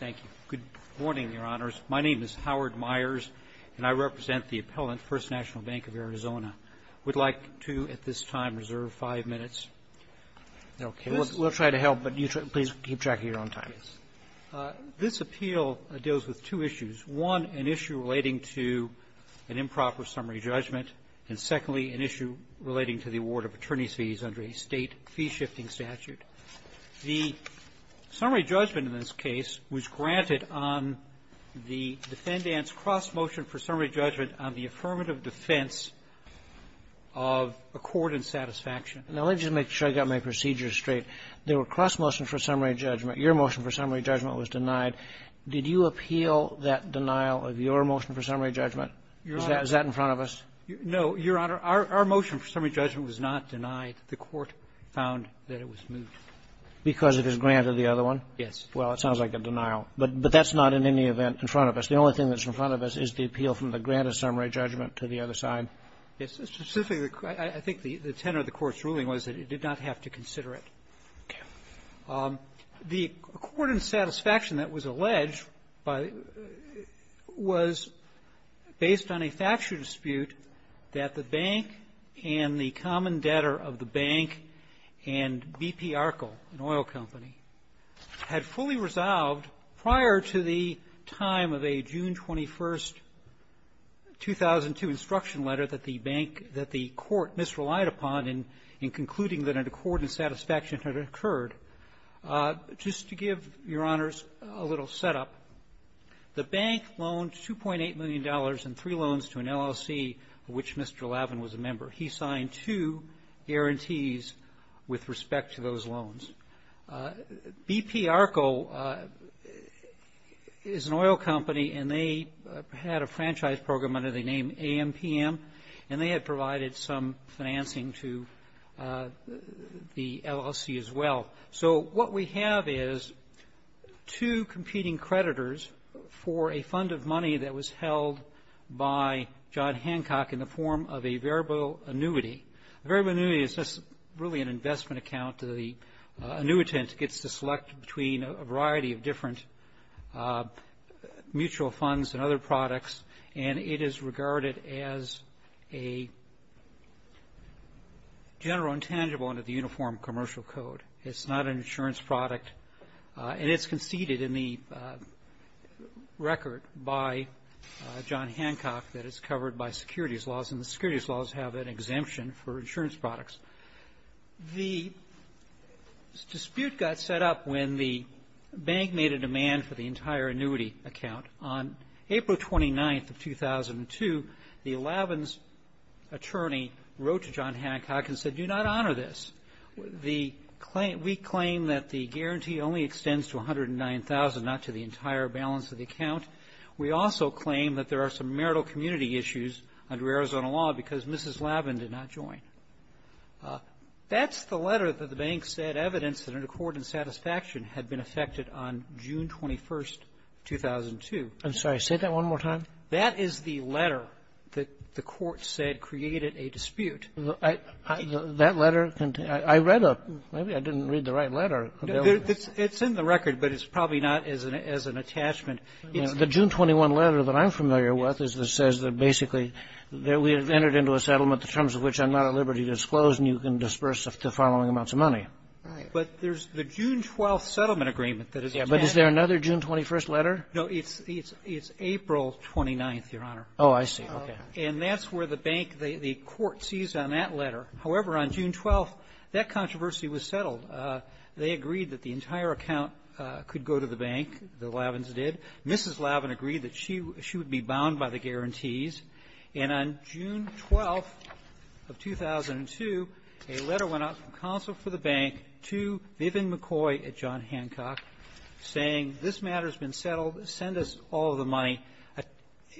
Thank you. Good morning, Your Honors. My name is Howard Myers, and I represent the appellant, First National Bank of Arizona. We'd like to, at this time, reserve five minutes. We'll try to help, but please keep track of your own time. This appeal deals with two issues, one, an issue relating to an improper summary judgment, and secondly, an issue relating to the award of attorney's fees under a state fee-shifting statute. The summary judgment in this case was granted on the defendant's cross motion for summary judgment on the affirmative defense of accord and satisfaction. Now, let me just make sure I got my procedures straight. There were cross motions for summary judgment. Your motion for summary judgment was denied. Did you appeal that denial of your motion for summary judgment? Is that in front of us? No, Your Honor. Our motion for summary judgment was not denied. The Court found that it was moved. Because it was granted the other one? Yes. Well, it sounds like a denial. But that's not in any event in front of us. The only thing that's in front of us is the appeal from the granted summary judgment to the other side. Yes. Specifically, I think the tenor of the Court's ruling was that it did not have to consider it. Okay. The accord and satisfaction that was alleged by the — was based on a factual dispute that the bank and the common debtor of the bank and BP Arkel, an oil company, had fully resolved prior to the time of a June 21, 2002, instruction letter that the bank — that the Court misrelied upon in concluding that an accord and satisfaction had occurred. Just to give Your Honors a little setup, the bank loaned $2.8 million and three of which Mr. Lavin was a member. He signed two guarantees with respect to those loans. BP Arkel is an oil company, and they had a franchise program under the name AMPM, and they had provided some financing to the LLC as well. So what we have is two competing creditors for a fund of money that was held by John Hancock in the form of a variable annuity. A variable annuity is just really an investment account. The annuitant gets to select between a variety of different mutual funds and other products, and it is regarded as a general and tangible under the Uniform Commercial Code. It's not an insurance product, and it's conceded in the record by John Hancock that it's covered by securities laws, and the securities laws have an exemption for insurance products. The dispute got set up when the bank made a demand for the entire annuity account. On April 29th of 2002, the Lavin's attorney wrote to John Hancock, saying, we claim that the guarantee only extends to 109,000, not to the entire balance of the account. We also claim that there are some marital community issues under Arizona law because Mrs. Lavin did not join. That's the letter that the bank said evidenced that an accord in satisfaction had been effected on June 21st, 2002. Robertson I'm sorry. Say that one more time. That is the letter that the Court said created a dispute. Kagan I read a letter. Maybe I didn't read the right letter. Roberts It's in the record, but it's probably not as an attachment. The June 21 letter that I'm familiar with is that says that basically that we have entered into a settlement, the terms of which I'm not at liberty to disclose, and you can disperse the following amounts of money. Kagan But there's the June 12th settlement agreement that is attached. Kagan But is there another June 21st letter? Roberts No. It's April 29th, Your Honor. Kagan Oh, I see. Okay. Roberts And that's where the bank the Court sees on that letter. However, on June 12th, that controversy was settled. They agreed that the entire account could go to the bank. The Lavins did. Mrs. Lavin agreed that she would be bound by the guarantees. And on June 12th of 2002, a letter went out from counsel for the bank to Vivian McCoy at John Hancock saying, this matter has been settled. Send us all of the money.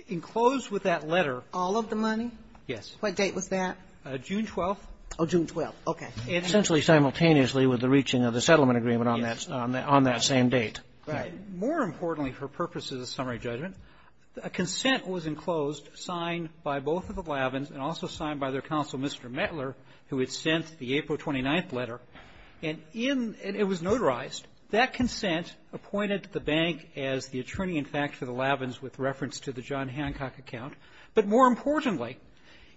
Enclosed with that letter… Kagan All of the money? Roberts Yes. Kagan What date was that? Roberts June 12th. Kagan Oh, June 12th. Okay. Roberts And essentially simultaneously with the reaching of the settlement agreement on that… on that same date. Kagan Right. Roberts More importantly for purposes of summary judgment, a consent was enclosed, signed by both of the Lavins and also signed by their counsel, Mr. Mettler, who had sent the April 29th letter, and in… and it was notarized. That consent appointed the bank as the attorney, in fact, for the Lavins with reference to the John Hancock account. But more importantly,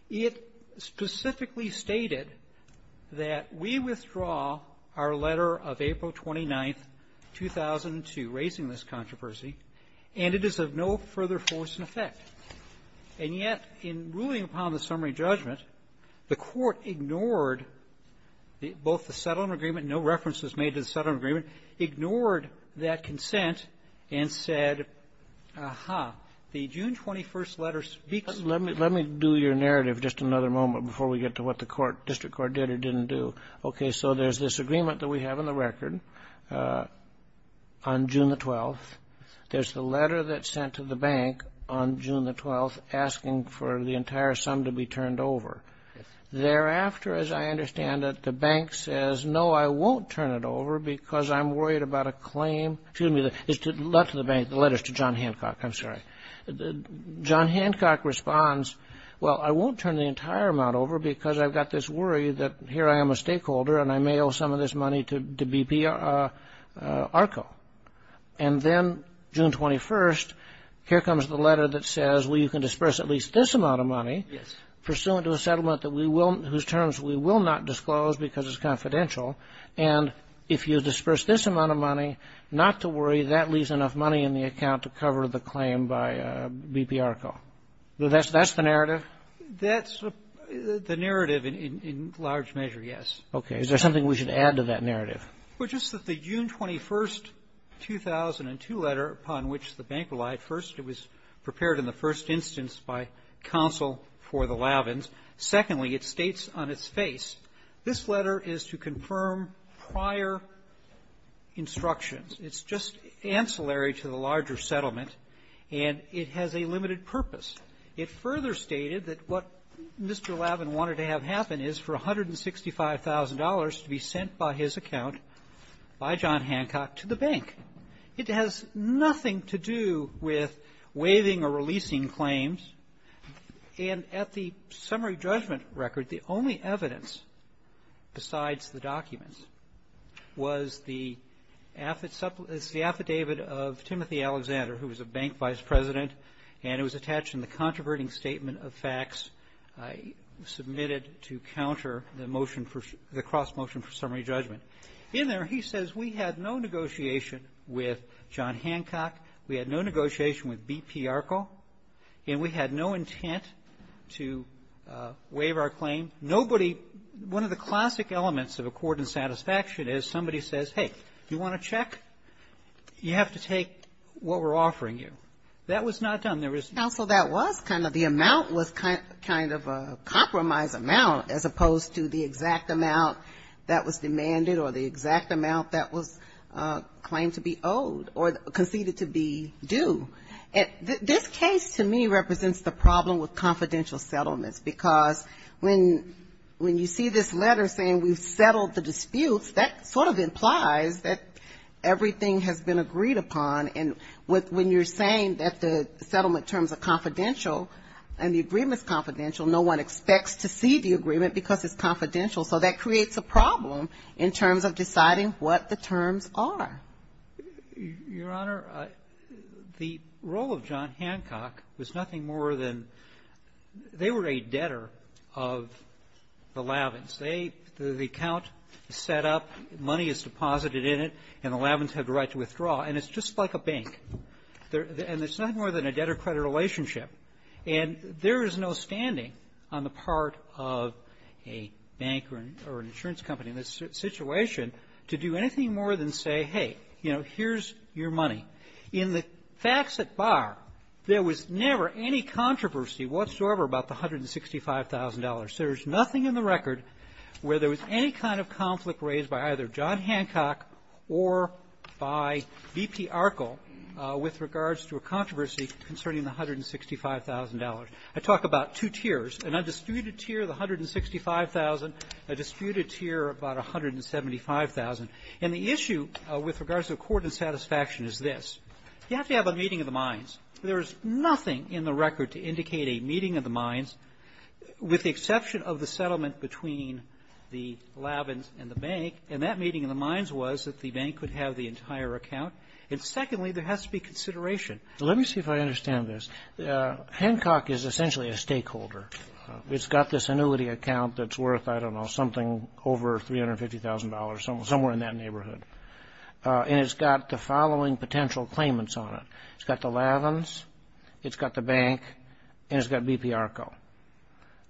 it specifically stated that we withdraw our letter of April 29th, 2002, raising this controversy, and it is of no further force and effect. And yet, in ruling upon the summary judgment, the Court ignored the… both the settlement agreement, no reference was made to the settlement agreement, ignored that consent and said, aha, the June 21st letter speaks… Kennedy Let me… let me do your narrative just another moment before we get to what the court… district court did or didn't do. Okay. So there's this agreement that we have in the record on June the 12th. There's the letter that's sent to the bank on June the 12th asking for the entire sum to be turned over. Thereafter, as I understand it, the bank says, no, I won't turn it over because I'm worried about a claim… excuse me, it's left to the bank, the letter is to John Hancock, I'm sorry. John Hancock responds, well, I won't turn the entire amount over because I've got this worry that here I am a stakeholder and I may owe some of this money to BP ARCO. And then June 21st, here comes the letter that says, well, you can disperse at least this amount of money… Yes.… pursuant to a settlement that we will… whose terms we will not disclose because it's confidential. And if you disperse this amount of money, not to worry, that leaves enough money in the account to cover the claim by BP ARCO. That's the narrative? That's the narrative in large measure, yes. Okay. Is there something we should add to that narrative? Well, just that the June 21st, 2002 letter upon which the bank relied, first it was prepared in the first instance by counsel for the Lavins. Secondly, it states on its face, this letter is to confirm prior instructions. It's just ancillary to the larger settlement, and it has a limited purpose. It further stated that what Mr. Lavin wanted to have happen is for $165,000 to be sent by his account by John Hancock to the bank. It has nothing to do with waiving or releasing claims. And at the summary judgment record, the only evidence besides the documents was the affidavit of Timothy Alexander, who was a bank vice president, and it was attached in the controverting statement of facts submitted to counter the motion for the cross-motion for summary judgment. In there, he says we had no negotiation with John Hancock. We had no negotiation with BP Arco, and we had no intent to waive our claim. Nobody one of the classic elements of accord and satisfaction is somebody says, hey, you want a check? You have to take what we're offering you. That was not done. There was not. Counsel, that was kind of the amount was kind of a compromise amount as opposed to the exact amount that was demanded or the exact amount that was claimed to be owed or conceded to be due. This case to me represents the problem with confidential settlements, because when you see this letter saying we've settled the disputes, that sort of implies that everything has been agreed upon. And when you're saying that the settlement terms are confidential and the agreement is confidential, no one expects to see the agreement because it's confidential. So that creates a problem in terms of deciding what the terms are. Your Honor, the role of John Hancock was nothing more than they were a debtor of the Lavins. They the account is set up, money is deposited in it, and the Lavins have the right to withdraw, and it's just like a bank. And it's nothing more than a debtor-credit relationship. And there is no standing on the part of a bank or an insurance company in this situation to do anything more than say, hey, you know, here's your money. In the facts at bar, there was never any controversy whatsoever about the $165,000. There's nothing in the record where there was any kind of conflict raised by either I talk about two tiers. An undisputed tier of the $165,000, a disputed tier of about $175,000. And the issue with regards to accord and satisfaction is this. You have to have a meeting of the minds. There is nothing in the record to indicate a meeting of the minds, with the exception of the settlement between the Lavins and the bank. And that meeting of the minds was that the bank could have the entire account. And secondly, there has to be consideration. Let me see if I understand this. Hancock is essentially a stakeholder. It's got this annuity account that's worth, I don't know, something over $350,000, somewhere in that neighborhood. And it's got the following potential claimants on it. It's got the Lavins, it's got the bank, and it's got BP Arco.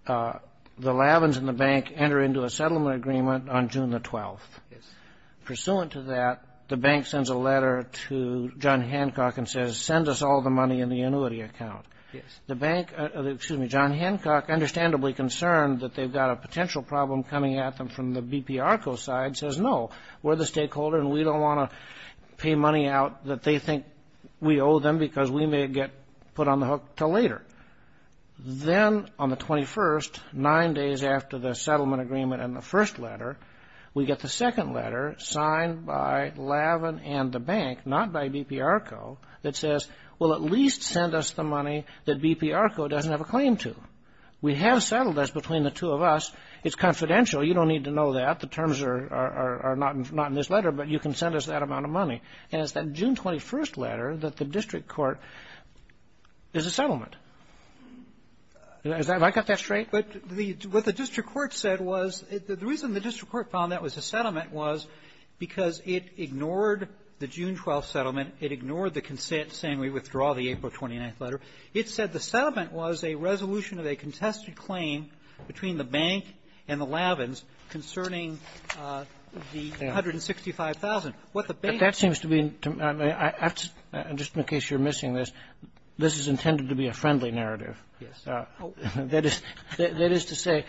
The Lavins and the bank enter into a settlement agreement on June the 12th. Pursuant to that, the bank sends a letter to John Hancock and says, send us all the money in the annuity account. The bank, excuse me, John Hancock, understandably concerned that they've got a potential problem coming at them from the BP Arco side, says no, we're the stakeholder and we don't want to pay money out that they think we owe them because we may get put on the hook until later. Then on the 21st, nine days after the settlement agreement and the first letter, we get the second letter signed by Lavin and the bank, not by BP Arco, that says, well, at least send us the money that BP Arco doesn't have a claim to. We have settled this between the two of us. It's confidential. You don't need to know that. The terms are not in this letter, but you can send us that amount of money. And it's that June 21st letter that the district court is a settlement. Have I got that straight? But the what the district court said was, the reason the district court found that was a settlement was because it ignored the June 12th settlement. It ignored the consent saying we withdraw the April 29th letter. It said the settlement was a resolution of a contested claim between the bank and the Lavins concerning the $165,000. What the bank said was the settlement was a resolution of a contested claim between the bank and the Lavins concerning the $165,000. That is to say,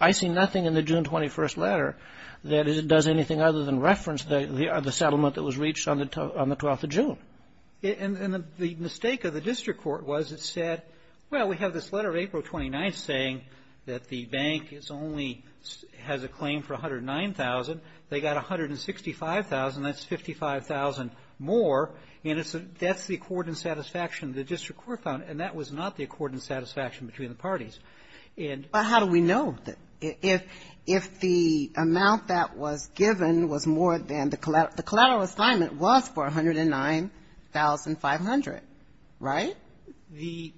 I see nothing in the June 21st letter that does anything other than reference the settlement that was reached on the 12th of June. And the mistake of the district court was it said, well, we have this letter of April 29th saying that the bank is only has a claim for $109,000. They got $165,000, that's $55,000 more, and that's the accord and satisfaction the district court found, and that was not the accord and satisfaction between the parties. And the terms of the record, and it's in the record, the the terms of the record, if the amount that was given was more than the collateral assignment was for $109,500. Right? That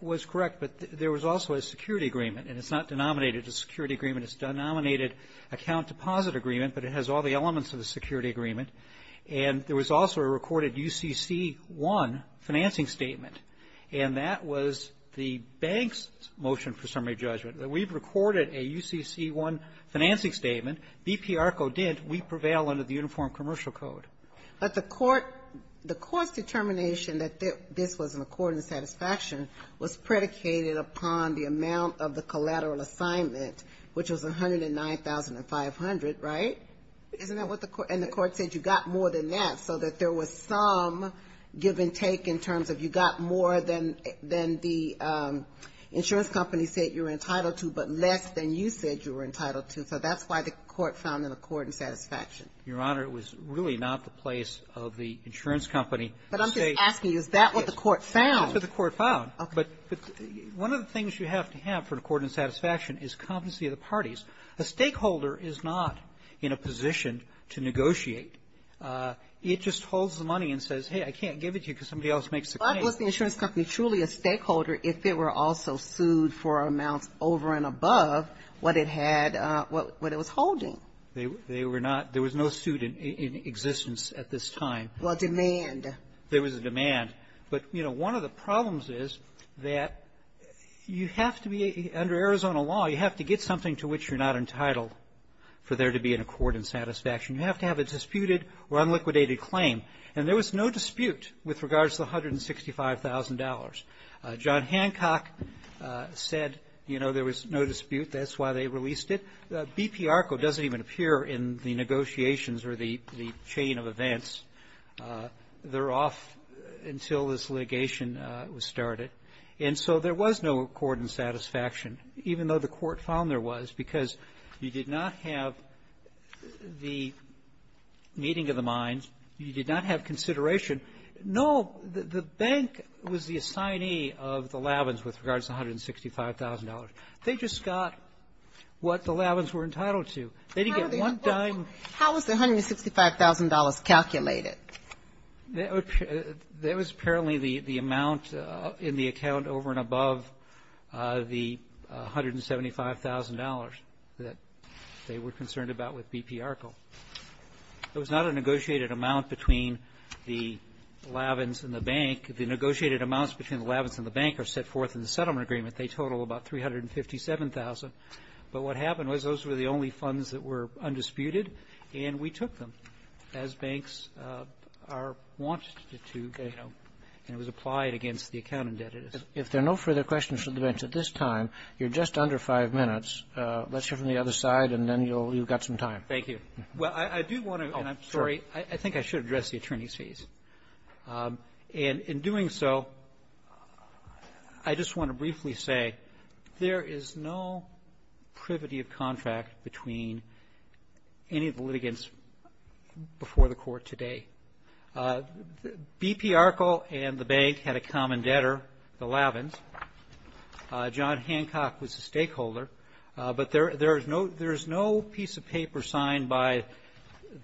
was correct, but there was also a security agreement, and it's not denominated a security agreement. It's a denominated account deposit agreement, but it has all the elements of the security agreement. And there was also a recorded UCC-1 financing statement, and that was the bank's motion for summary judgment. We've recorded a UCC-1 financing statement. BP ARCO did. We prevail under the Uniform Commercial Code. But the court the court's determination that this was an accord and satisfaction was predicated upon the amount of the collateral assignment, which was $109,500. Right? Isn't that what the court? And the court said you got more than that, so that there was some give-and-take in terms of you got more than the insurance company said you were entitled to, but less than you said you were entitled to. So that's why the court found an accord and satisfaction. Your Honor, it was really not the place of the insurance company. But I'm just asking, is that what the court found? That's what the court found. Okay. But one of the things you have to have for an accord and satisfaction is competency of the parties. A stakeholder is not in a position to negotiate. It just holds the money and says, hey, I can't give it to you because somebody else makes the claim. But was the insurance company truly a stakeholder if it were also sued for amounts over and above what it had what it was holding? They were not. There was no suit in existence at this time. Well, demand. There was a demand. But, you know, one of the problems is that you have to be, under Arizona law, you have to get something to which you're not entitled for there to be an accord and satisfaction. You have to have a disputed or unliquidated claim. And there was no dispute with regards to the $165,000. John Hancock said, you know, there was no dispute. That's why they released it. BP ARCO doesn't even appear in the negotiations or the chain of events. They're off until this litigation was started. And so there was no accord and satisfaction, even though the court found there was, because you did not have the meeting of the minds. You did not have consideration. No, the bank was the assignee of the Lavins with regards to the $165,000. They just got what the Lavins were entitled to. They didn't get one dime. How was the $165,000 calculated? There was apparently the amount in the account over and above the $175,000 that they were concerned about with BP ARCO. It was not a negotiated amount between the Lavins and the bank. The negotiated amounts between the Lavins and the bank are set forth in the settlement agreement. They total about $357,000. But what happened was those were the only funds that were undisputed, and we took them as banks are wanted to, you know, and it was applied against the account indebtedness. If there are no further questions from the bench at this time, you're just under five minutes. Let's hear from the other side, and then you'll got some time. Thank you. Well, I do want to go, and I'm sorry. I think I should address the attorney's fees. And in doing so, I just want to briefly say there is no privity of contract between any of the litigants before the court today. BP ARCO and the bank had a common debtor, the Lavins. John Hancock was the stakeholder, but there's no piece of paper signed by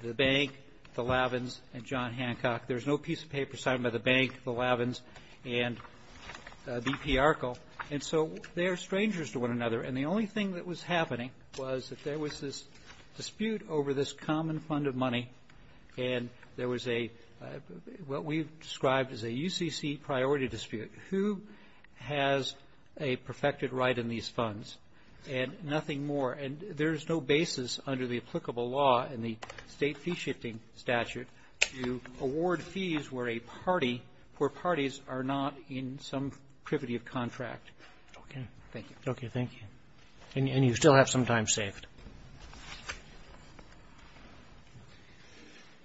the bank, the Lavins, and John Hancock. There's no piece of paper signed by the bank, the Lavins, and BP ARCO. And so, they are strangers to one another. And the only thing that was happening was that there was this dispute over this common fund of money, and there was a, what we've described as a UCC priority dispute. Who has a perfected right in these funds? And nothing more. And there's no basis under the applicable law in the state fee-shifting statute to award fees where a party, where parties are not in some privity of contract. Okay. Thank you. Okay. Thank you. And you still have some time saved.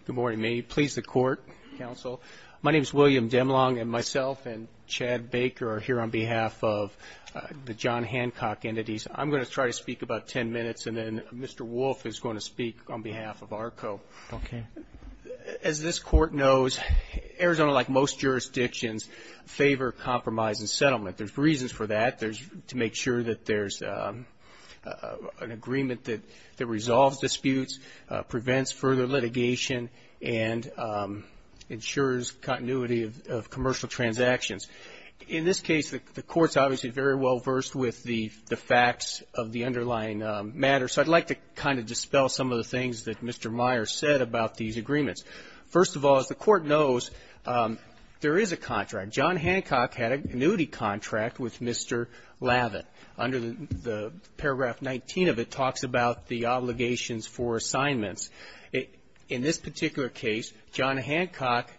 Good morning. May it please the Court, Counsel. My name's William Dimlong, and myself and Chad Baker are here on behalf of the John Hancock entities. I'm going to try to speak about 10 minutes, and then Mr. Wolf is going to speak on behalf of ARCO. Okay. As this Court knows, Arizona, like most jurisdictions, favor compromise and settlement. There's reasons for that. There's to make sure that there's an agreement that resolves disputes, prevents further litigation, and ensures continuity of commercial transactions. In this case, the Court's obviously very well versed with the facts of the underlying matter. So I'd like to kind of dispel some of the things that Mr. Meyer said about these agreements. First of all, as the Court knows, there is a contract. John Hancock had an annuity contract with Mr. Lavin. Under the paragraph 19 of it talks about the obligations for assignments. In this particular case, John Hancock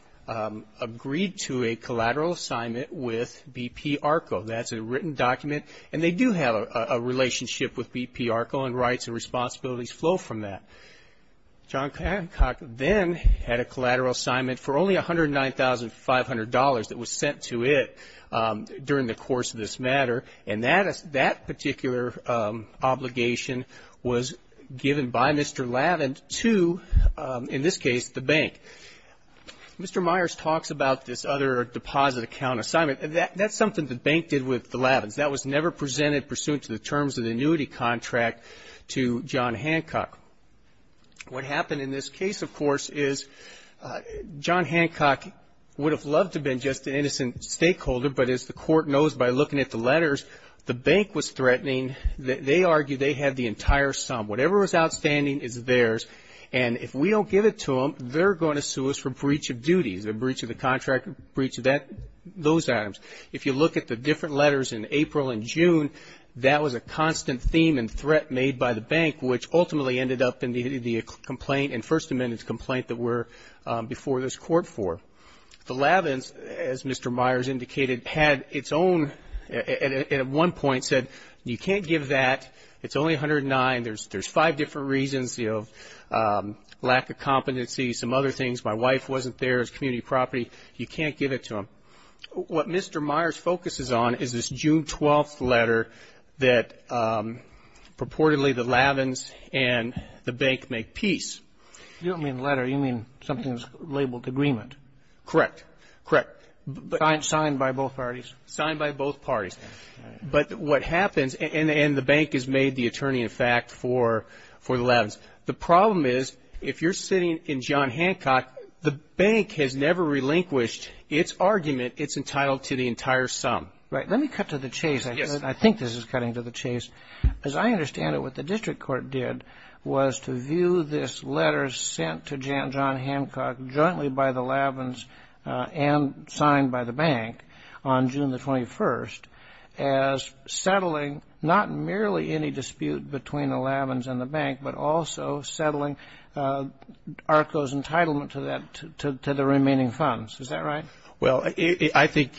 agreed to a collateral assignment with BP ARCO. That's a written document. And they do have a relationship with BP ARCO, and rights and responsibilities flow from that. John Hancock then had a collateral assignment for only $109,500 that was sent to it during the course of this matter. And that particular obligation was given by Mr. Lavin to, in this case, the bank. Mr. Myers talks about this other deposit account assignment. That's something the bank did with the Lavins. That was never presented pursuant to the terms of the annuity contract to John Hancock. What happened in this case, of course, is John Hancock would have loved to have been just an innocent stakeholder. But as the Court knows by looking at the letters, the bank was threatening. They argued they had the entire sum. Whatever was outstanding is theirs. And if we don't give it to them, they're going to sue us for breach of duty, a breach of the contract, a breach of those items. If you look at the different letters in April and June, that was a constant theme and threat made by the bank, which ultimately ended up in the complaint, in First Amendment's complaint, that we're before this Court for. The Lavins, as Mr. Myers indicated, had its own, at one point said, you can't give that. It's only $109,000. There's five different reasons, lack of competency, some other things. My wife wasn't there. It was community property. You can't give it to them. What Mr. Myers focuses on is this June 12th letter that purportedly the Lavins and the bank make peace. You don't mean letter. You mean something that's labeled agreement. Correct. Correct. Signed by both parties? Signed by both parties. But what happens, and the bank has made the attorney, in fact, for the Lavins. The problem is, if you're sitting in John Hancock, the bank has never relinquished its argument. It's entitled to the entire sum. Right. Let me cut to the chase. I think this is cutting to the chase. As I understand it, what the district court did was to view this letter sent to John Hancock jointly by the Lavins and signed by the bank on June 21st as settling not merely any dispute between the Lavins and the bank, but also settling ARCO's entitlement to the remaining funds. Is that right? Well, I think,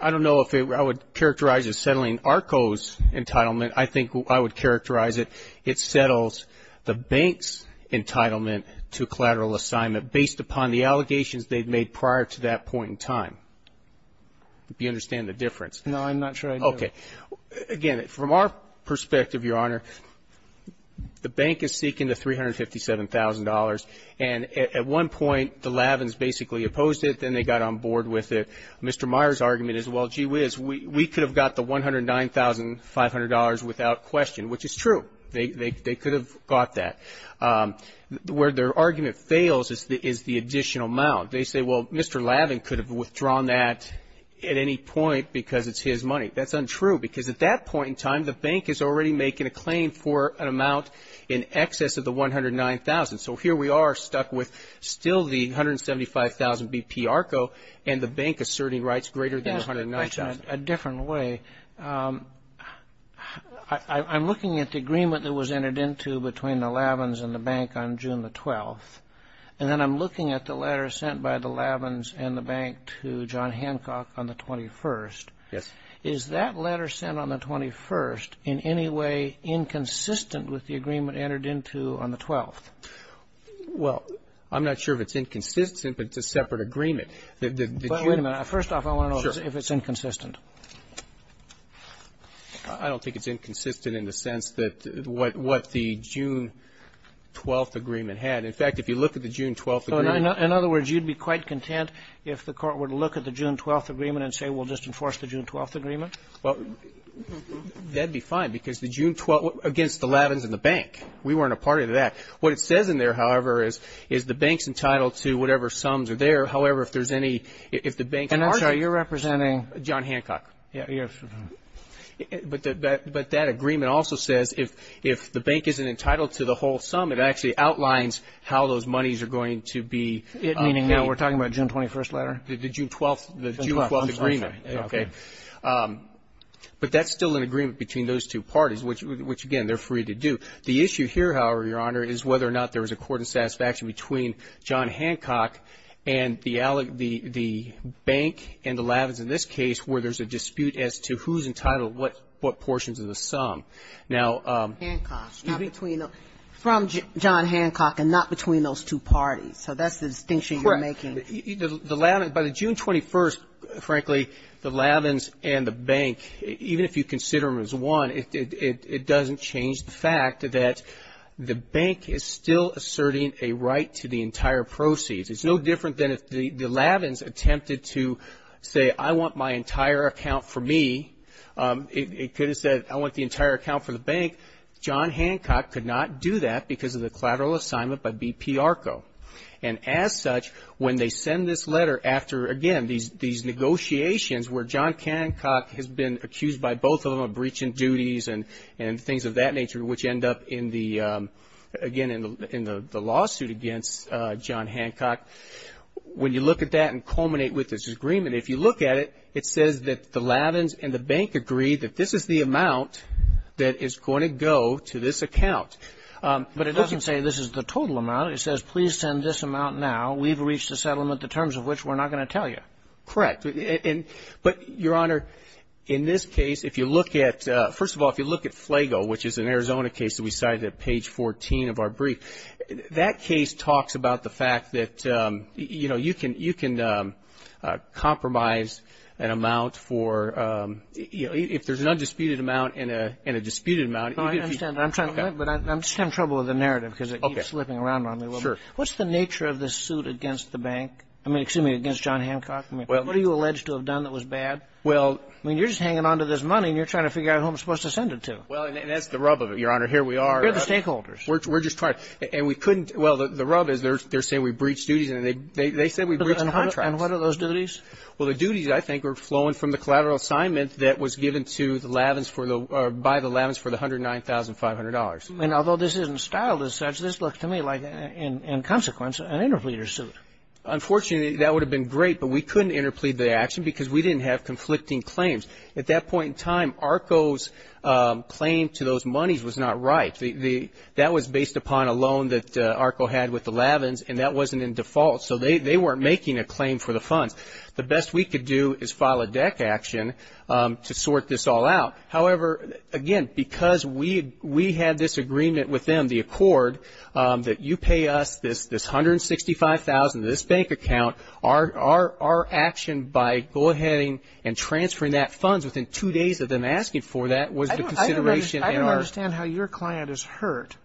I don't know if I would characterize it as settling ARCO's entitlement. I think I would characterize it, it settles the bank's entitlement to collateral assignment based upon the allegations they'd made prior to that point in time. Do you understand the difference? No, I'm not sure I do. Okay. Again, from our perspective, Your Honor, the bank is seeking the $357,000 and at one point the Lavins basically opposed it, then they got on board with it. Mr. Meyer's argument is, well, gee whiz, we could have got the $109,500 without question, which is true. They could have got that. Where their argument fails is the additional amount. They say, well, Mr. Lavin could have withdrawn that at any point because it's his money. That's untrue because at that point in time, the bank is already making a claim for an amount in excess of the $109,000. So here we are stuck with still the $175,000 BP ARCO and the bank asserting rights greater than $109,000. A different way, I'm looking at the agreement that was entered into between the Lavins and the bank on June the 12th and then I'm looking at the letter sent by the Lavins and the bank to John Hancock on the 21st. Yes. Is that letter sent on the 21st in any way inconsistent with the agreement entered into on the 12th? Well, I'm not sure if it's inconsistent, but it's a separate agreement. The June the 12th. But wait a minute. First off, I want to know if it's inconsistent. I don't think it's inconsistent in the sense that what the June 12th agreement had. In fact, if you look at the June 12th agreement. In other words, you'd be quite content if the Court were to look at the June 12th agreement and say, well, just enforce the June 12th agreement? Well, that'd be fine because the June 12th against the Lavins and the bank. We weren't a part of that. What it says in there, however, is the bank's entitled to whatever sums are there. However, if there's any, if the bank. And I'm sorry, you're representing? John Hancock. Yes. But that agreement also says if the bank isn't entitled to the whole sum, it actually outlines how those monies are going to be. Meaning now we're talking about June 21st letter? The June 12th agreement. Okay. But that's still an agreement between those two parties, which again, they're free to do. The issue here, however, Your Honor, is whether or not there was a court of satisfaction between John Hancock and the bank and the Lavins in this case where there's a dispute as to who's entitled what portions of the sum. Now. Hancock. From John Hancock and not between those two parties. So that's the distinction you're making. The Lavins, by the June 21st, frankly, the Lavins and the bank, even if you consider them as one, it doesn't change the fact that the bank is still asserting a right to the entire proceeds. It's no different than if the Lavins attempted to say I want my entire account for me, it could have said I want the entire account for the bank. John Hancock could not do that because of the collateral assignment by BP ARCO. And as such, when they send this letter after, again, these negotiations where John Hancock has been accused by both of them of breaching duties and things of that nature, which end up in the lawsuit against John Hancock, when you look at that and culminate with this agreement, if you look at it, it says that the Lavins and the bank agree that this is the amount that is going to go to this account. But it doesn't say this is the total amount. It says please send this amount now. We've reached a settlement, the terms of which we're not going to tell you. Correct. But, Your Honor, in this case, if you look at, first of all, if you look at FLAGO, which is an Arizona case that we cited at page 14 of our brief, that case talks about the fact that, you know, you can compromise an amount for, you know, if there's an undisputed amount and a disputed amount. No, I understand. I'm just having trouble with the narrative because it keeps slipping around on me. What's the nature of this suit against the bank? I mean, excuse me, against John Hancock? What are you alleged to have done that was bad? Well, I mean, you're just hanging on to this money and you're trying to figure out who I'm supposed to send it to. Well, and that's the rub of it, Your Honor. Here we are. We're the stakeholders. We're just trying. And we couldn't, well, the rub is they're saying we breached duties and they said we breached contracts. And what are those duties? Well, the duties, I think, are flowing from the collateral assignment that was given to the Lavins for the, by the Lavins for the $109,500. And although this isn't styled as such, this looks to me like, in consequence, an interpleader suit. Unfortunately, that would have been great, but we couldn't interplead the action because we didn't have conflicting claims. At that point in time, ARCO's claim to those monies was not right. That was based upon a loan that ARCO had with the Lavins, and that wasn't in default. So they weren't making a claim for the funds. The best we could do is file a DEC action to sort this all out. However, again, because we had this agreement with them, the accord, that you pay us this $165,000, this bank account, our action by go ahead and transferring that funds within two days of them asking for that was the consideration in our --. I don't understand how your client is hurt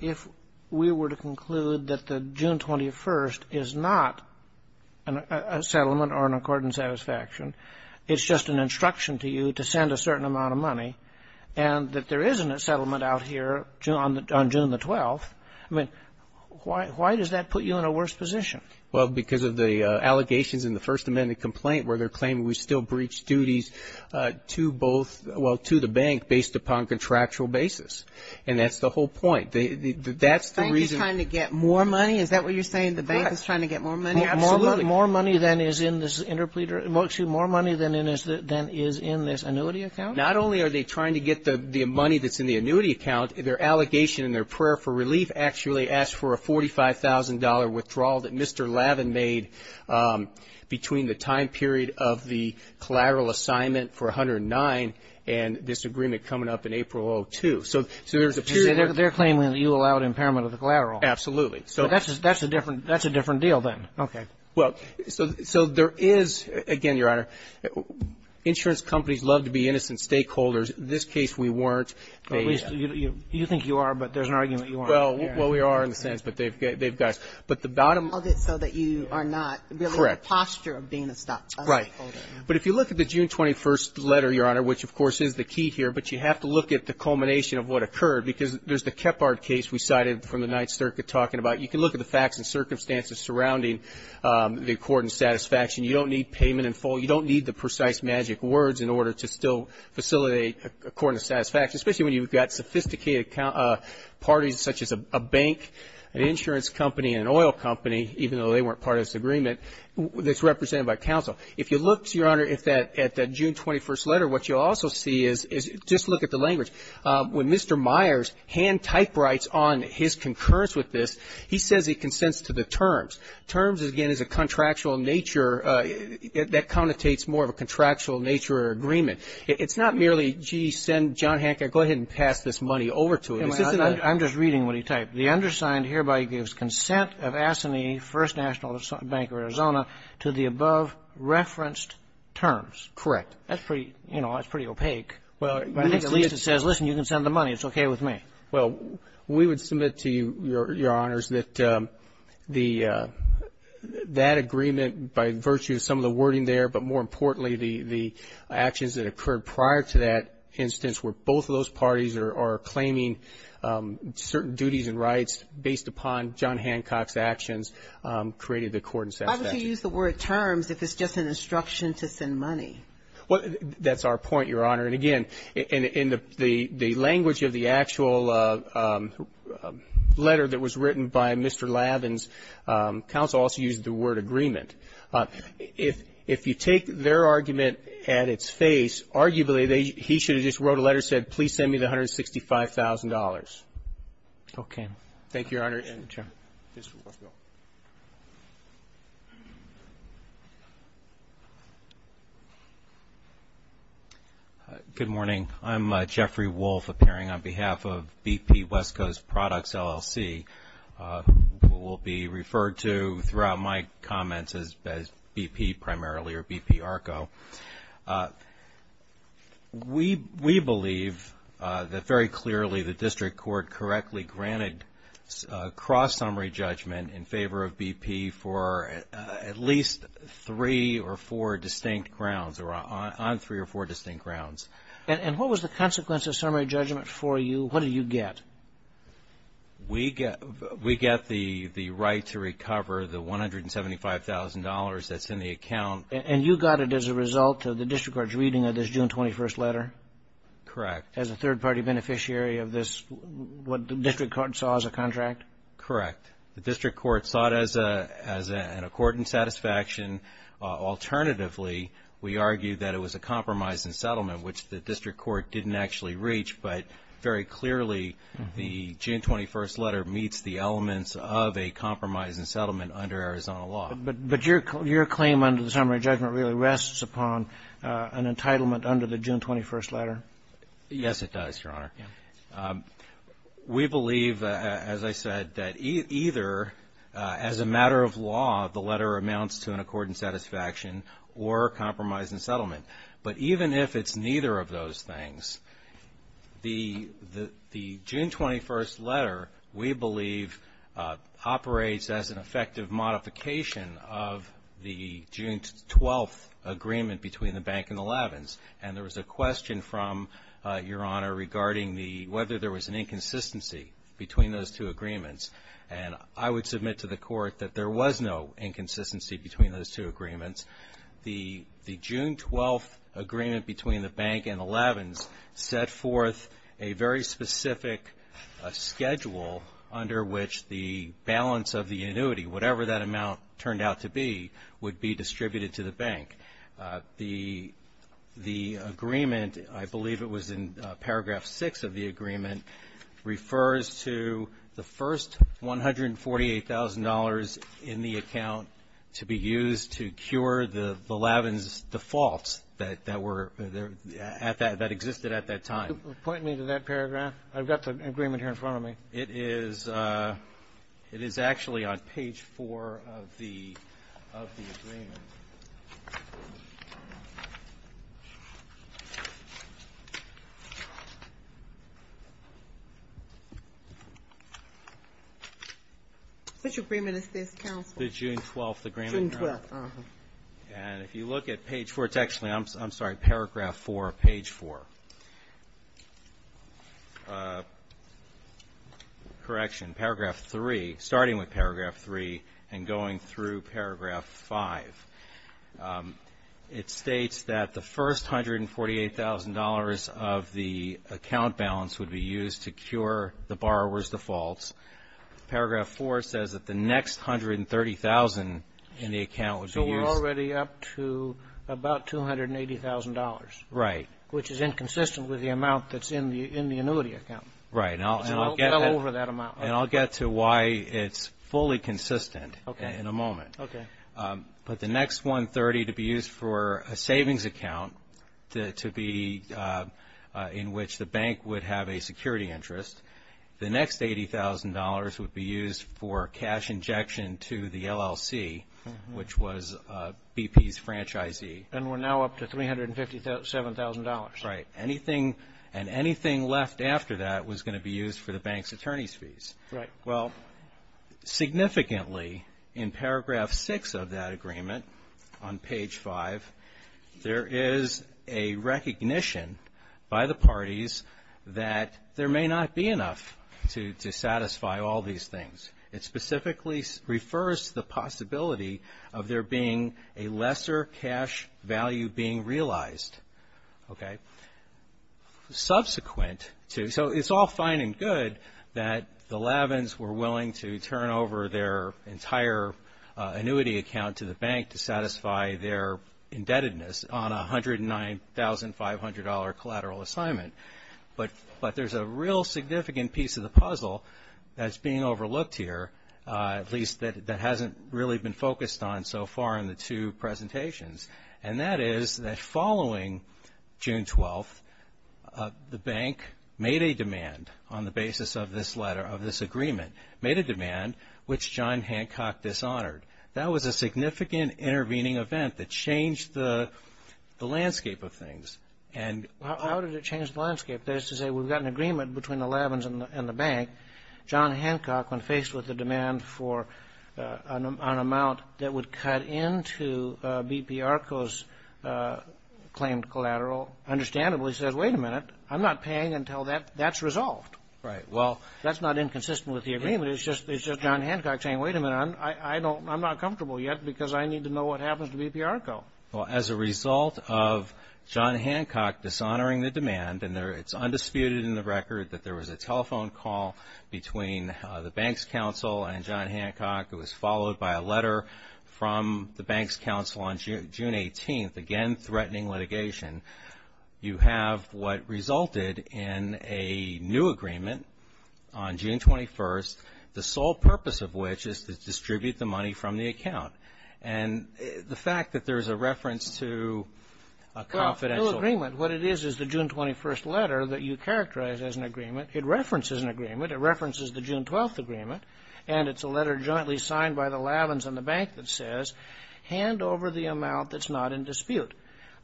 if we were to conclude that the June 21st is not a settlement or an accord in satisfaction. It's just an instruction to you to send a certain amount of money, and that there isn't a settlement out here on June the 12th. I mean, why does that put you in a worse position? Well, because of the allegations in the First Amendment complaint where they're claiming we still breached duties to both, well, to the bank based upon contractual basis, and that's the whole point. That's the reason --. The bank is trying to get more money? Is that what you're saying? The bank is trying to get more money? Absolutely. More money than is in this annuity account? Not only are they trying to get the money that's in the annuity account, their allegation and their prayer for relief actually asked for a $45,000 withdrawal that Mr. Lavin made between the time period of the collateral assignment for 109 and this agreement coming up in April of 2002. So there's a period of --. They're claiming that you allowed impairment of the collateral. Absolutely. So that's a different deal then. Okay. Well, so there is, again, Your Honor, insurance companies love to be innocent stakeholders. In this case, we weren't. At least you think you are, but there's an argument you aren't. Well, we are in a sense, but they've got us. But the bottom --. So that you are not really in the posture of being a stockholder. Right. But if you look at the June 21st letter, Your Honor, which, of course, is the key here, but you have to look at the culmination of what occurred because there's the Kephart case we cited from the Ninth Circuit talking about. You can look at the facts and circumstances surrounding the accord and satisfaction. You don't need payment in full. You don't need the precise magic words in order to still facilitate accord and satisfaction, especially when you've got sophisticated parties such as a bank, an insurance company, and an oil company, even though they weren't part of this agreement, that's represented by counsel. If you look, Your Honor, at that June 21st letter, what you'll also see is just look at the language. When Mr. Myers hand-typewrites on his concurrence with this, he says he consents to the terms. Terms, again, is a contractual nature that connotates more of a contractual nature agreement. It's not merely, gee, send John Hancock, go ahead and pass this money over to him. It's just another --. I'm just reading what he typed. The undersigned hereby gives consent of Assamie First National Bank of Arizona to the above-referenced terms. Correct. That's pretty, you know, that's pretty opaque. Well, I think at least it says, listen, you can send the money. It's okay with me. Well, we would submit to you, Your Honors, that the, that agreement, by virtue of some of the wording there, but more importantly, the actions that occurred prior to that instance where both of those parties are claiming certain duties and rights based upon John Hancock's actions, created the court in satisfaction. Why would you use the word terms if it's just an instruction to send money? Well, that's our point, Your Honor. And again, in the, the language of the actual letter that was written by Mr. Lavin's counsel also used the word agreement. If, if you take their argument at its face, arguably, they, he should have just wrote a letter and said, please send me the $165,000. Okay. Thank you, Your Honor. And, Jim. Please, go ahead, Bill. Good morning. I'm Jeffrey Wolf, appearing on behalf of BP West Coast Products, LLC, who will be referred to throughout my comments as, as BP primarily, or BP ARCO. We, we believe that very clearly the district court correctly granted cross-summary judgment in favor of BP for at least three or four distinct grounds, or on, on three or four distinct grounds. And, and what was the consequence of summary judgment for you? What did you get? We get, we get the, the right to recover the $175,000 that's in the account. And you got it as a result of the district court's reading of this June 21st letter? Correct. As a third-party beneficiary of this, what the district court saw as a contract? Correct. The district court saw it as a, as a, an accord and satisfaction. Alternatively, we argue that it was a compromise and settlement, which the district court didn't actually reach. But, very clearly, the June 21st letter meets the elements of a compromise and settlement under Arizona law. But, but your, your claim under the summary judgment really rests upon an entitlement under the June 21st letter? Yes, it does, your honor. Yeah. We believe, as I said, that either, as a matter of law, the letter amounts to an accord and satisfaction or compromise and settlement. But even if it's neither of those things, the, the, the June 21st letter, we believe, operates as an effective modification of the June 12th agreement between the bank and the Levins. And there was a question from your honor regarding the, whether there was an inconsistency between those two agreements. And I would submit to the court that there was no inconsistency between those two agreements. The, the June 12th agreement between the bank and the Levins set forth a very specific schedule under which the balance of the annuity, whatever that amount turned out to be, would be distributed to the bank. The, the agreement, I believe it was in paragraph six of the agreement, refers to the first $148,000 in the account to be used to cure the, the Levins defaults that, that were at that, that existed at that time. Point me to that paragraph. I've got the agreement here in front of me. It is it is actually on page four of the, of the agreement. Which agreement is this, counsel? The June 12th agreement. June 12th, uh-huh. And if you look at page four, it's actually, I'm, I'm sorry, paragraph four, page four. Correction, paragraph three, starting with paragraph three and going through paragraph five. It states that the first $148,000 of the account balance would be used to cure the borrower's defaults. Paragraph four says that the next $130,000 in the account would be used. So we're already up to about $280,000. Right. Which is inconsistent with the amount that's in the, in the annuity account. Right. And I'll, and I'll get over that amount. And I'll get to why it's fully consistent. Okay. In a moment. Okay. But the next $130,000 to be used for a savings account to, to be in which the bank would have a security interest, the next $80,000 would be used for cash injection to the LLC, which was BP's franchisee. And we're now up to $357,000. Right. Anything, and anything left after that was going to be used for the bank's attorney's fees. Right. Well, significantly in paragraph six of that agreement on page five, there is a recognition by the parties that there may not be enough to, to satisfy all these things. It specifically refers to the possibility of there being a lesser cash value being realized. Okay. Subsequent to, so it's all fine and good that the Lavins were willing to turn over their entire annuity account to the bank to satisfy their indebtedness on a $109,500 collateral assignment. But, but there's a real significant piece of the puzzle that's being overlooked here. At least that, that hasn't really been focused on so far in the two presentations. And that is that following June 12th, the bank made a demand on the basis of this letter, of this agreement, made a demand which John Hancock dishonored. That was a significant intervening event that changed the, the landscape of things. And- How did it change the landscape? That is to say, we've got an agreement between the Lavins and the bank. John Hancock, when faced with the demand for an amount that would cut into BPRCO's claimed collateral, understandably says, wait a minute, I'm not paying until that, that's resolved. Right, well- That's not inconsistent with the agreement. It's just, it's just John Hancock saying, wait a minute, I'm, I, I don't, I'm not comfortable yet because I need to know what happens to BPRCO. Well, as a result of John Hancock dishonoring the demand, and there, it's a symbolic agreement between the, the bank's counsel and John Hancock. It was followed by a letter from the bank's counsel on June, June 18th. Again, threatening litigation. You have what resulted in a new agreement on June 21st, the sole purpose of which is to distribute the money from the account. And the fact that there's a reference to a confidential- Well, new agreement, what it is is the June 21st letter that you characterize as an agreement. It references an agreement. It references the June 12th agreement. And it's a letter jointly signed by the Lavins and the bank that says, hand over the amount that's not in dispute.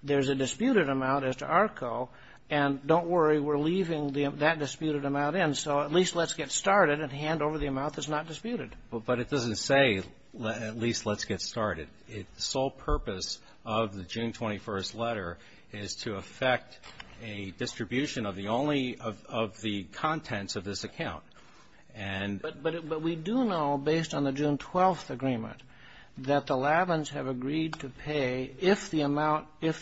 There's a disputed amount as to ARCO, and don't worry, we're leaving that disputed amount in, so at least let's get started and hand over the amount that's not disputed. But it doesn't say, at least let's get started. The sole purpose of the June 21st letter is to affect a distribution of the only of the contents of this account. And- But we do know, based on the June 12th agreement, that the Lavins have agreed to pay, if the amount in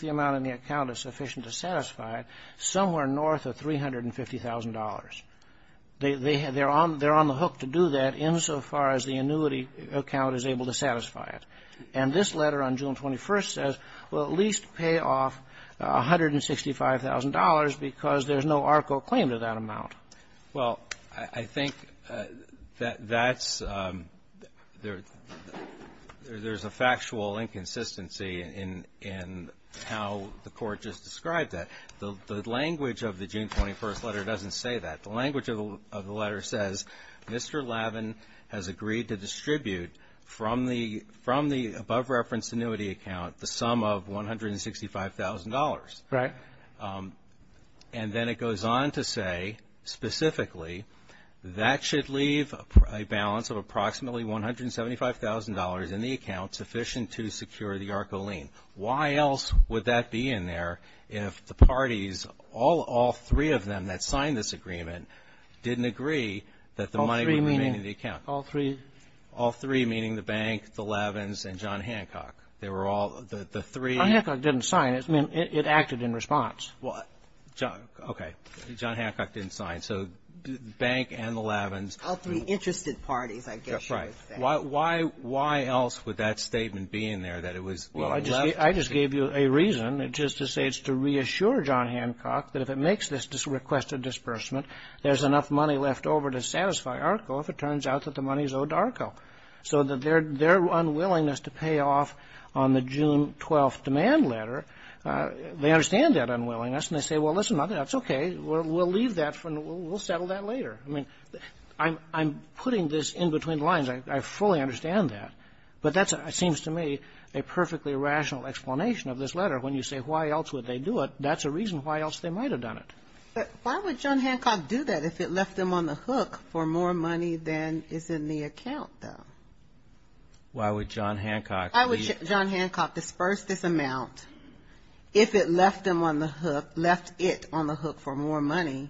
the account is sufficient to satisfy it, somewhere north of $350,000. They're on the hook to do that insofar as the annuity account is able to satisfy it. And this letter on June 21st says, well, at least pay off $165,000 because there's no ARCO claim to that amount. Well, I think that that's there's a factual inconsistency in how the Court just described that. The language of the June 21st letter doesn't say that. The language of the letter says, Mr. Lavin has agreed to distribute from the above reference annuity account the sum of $165,000. Right. And then it goes on to say, specifically, that should leave a balance of approximately $175,000 in the account sufficient to secure the ARCO lien. Why else would that be in there if the parties, all three of them that signed this agreement, didn't agree that the money would remain in the account? All three? All three, meaning the bank, the Lavins, and John Hancock. They were all, the three- I mean, it acted in response. Well, okay. John Hancock didn't sign. So the bank and the Lavins. All three interested parties, I guess you would say. Right. Why else would that statement be in there that it was being left? Well, I just gave you a reason. It's just to say it's to reassure John Hancock that if it makes this requested disbursement, there's enough money left over to satisfy ARCO if it turns out that the money is owed to ARCO. So their unwillingness to pay off on the June 12th demand letter, they understand that unwillingness, and they say, well, listen, that's okay, we'll leave that for, we'll settle that later. I mean, I'm putting this in between the lines. I fully understand that. But that seems to me a perfectly rational explanation of this letter. When you say why else would they do it, that's a reason why else they might have done it. But why would John Hancock do that if it left him on the hook for more money than is in the account, though? Why would John Hancock? Why would John Hancock disperse this amount if it left him on the hook, left it on the hook for more money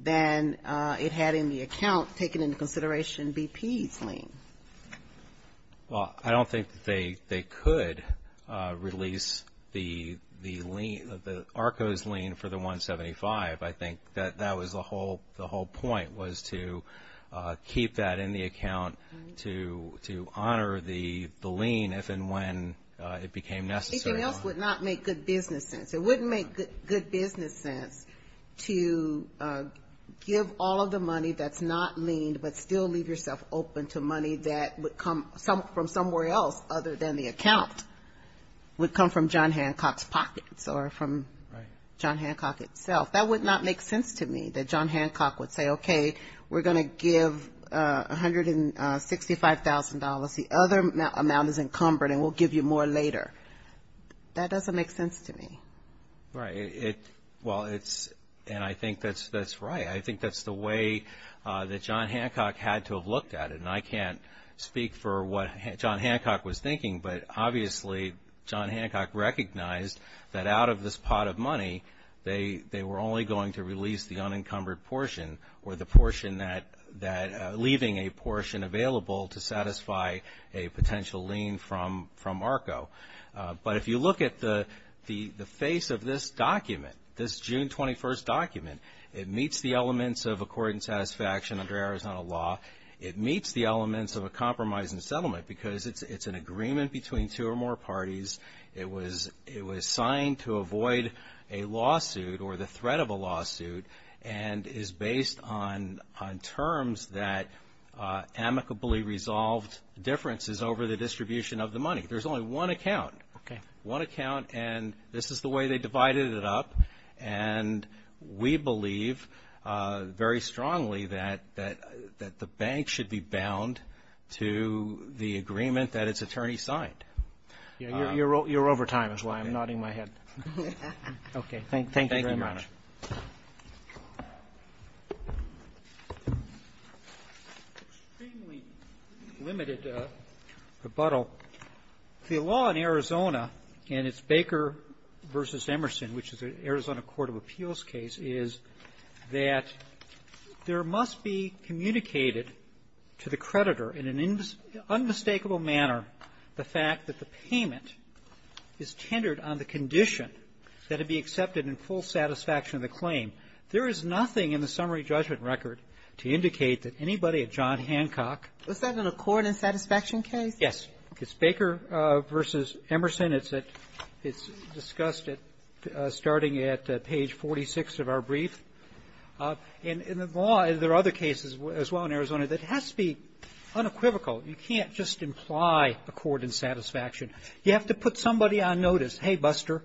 than it had in the account taken into consideration BP's lien? Well, I don't think that they could release the ARCO's lien for the 175. I think that that was the whole point, was to keep that in the account to honor the lien if and when it became necessary. Anything else would not make good business sense. It wouldn't make good business sense to give all of the money that's not liened, but still leave yourself open to money that would come from somewhere else other than the account, would come from John Hancock's pockets or from John Hancock itself. That would not make sense to me, that John Hancock would say, okay, we're going to give $165,000. The other amount is encumbered, and we'll give you more later. That doesn't make sense to me. Right. Well, it's, and I think that's right. I think that's the way that John Hancock had to have looked at it, and I can't speak for what John Hancock was thinking, but obviously, John Hancock recognized that out of this pot of money, they were only going to release the unencumbered portion, or the portion that, leaving a portion available to satisfy a potential lien from ARCO. But if you look at the face of this document, this June 21st document, it meets the elements of accord and satisfaction under Arizona law. It meets the elements of a compromise and settlement because it's an agreement between two or more parties. It was signed to avoid a lawsuit, or the threat of a lawsuit, and is based on terms that amicably resolved differences over the distribution of the money. There's only one account. Okay. One account, and this is the way they divided it up, and we believe very strongly that the bank should be bound to the agreement that its attorney signed. Yeah, you're over time, is why I'm nodding my head. Okay. Thank you very much. Thank you, Your Honor. Extremely limited rebuttal. The law in Arizona, and it's Baker v. Emerson, which is an Arizona court of appeals case, is that there must be an agreement on the fact that the payment is tendered on the condition that it be accepted in full satisfaction of the claim. There is nothing in the summary judgment record to indicate that anybody at John Hancock ---- Was that an accord and satisfaction case? Yes. It's Baker v. Emerson. It's at — it's discussed at — starting at page 46 of our brief. And in the law, there are other cases as well in Arizona that has to be unequivocal. You can't just imply accord and satisfaction. You have to put somebody on notice. Hey, Buster,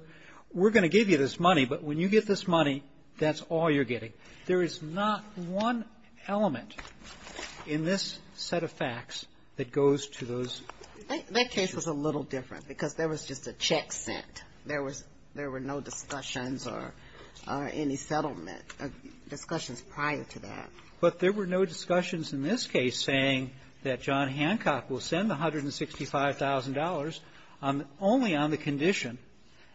we're going to give you this money, but when you get this money, that's all you're getting. There is not one element in this set of facts that goes to those cases. That case was a little different because there was just a check sent. There was — there were no discussions or any settlement, discussions prior to that. But there were no discussions in this case saying that John Hancock will send the $165,000 only on the condition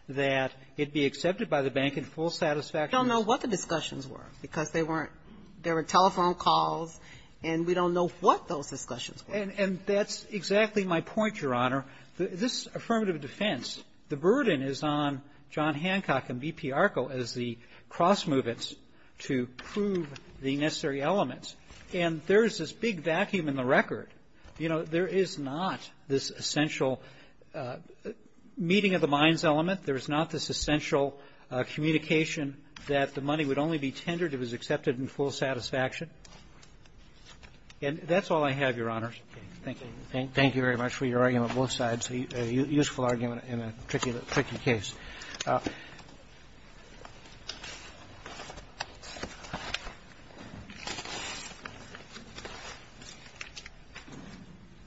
that it be accepted by the bank in full satisfaction of the claim. We don't know what the discussions were because they weren't — there were telephone calls, and we don't know what those discussions were. And that's exactly my point, Your Honor. This affirmative defense, the burden is on John Hancock and B.P. Elements. And there's this big vacuum in the record. You know, there is not this essential meeting of the minds element. There is not this essential communication that the money would only be tendered if it was accepted in full satisfaction. And that's all I have, Your Honors. Thank you. Thank you very much for your argument, both sides. A useful argument in a tricky case.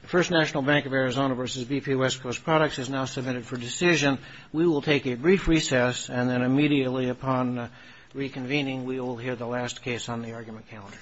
The First National Bank of Arizona v. B.P. West Coast Products has now submitted for decision. We will take a brief recess, and then immediately upon reconvening, we will hear the last case on the argument calendar. Thank you.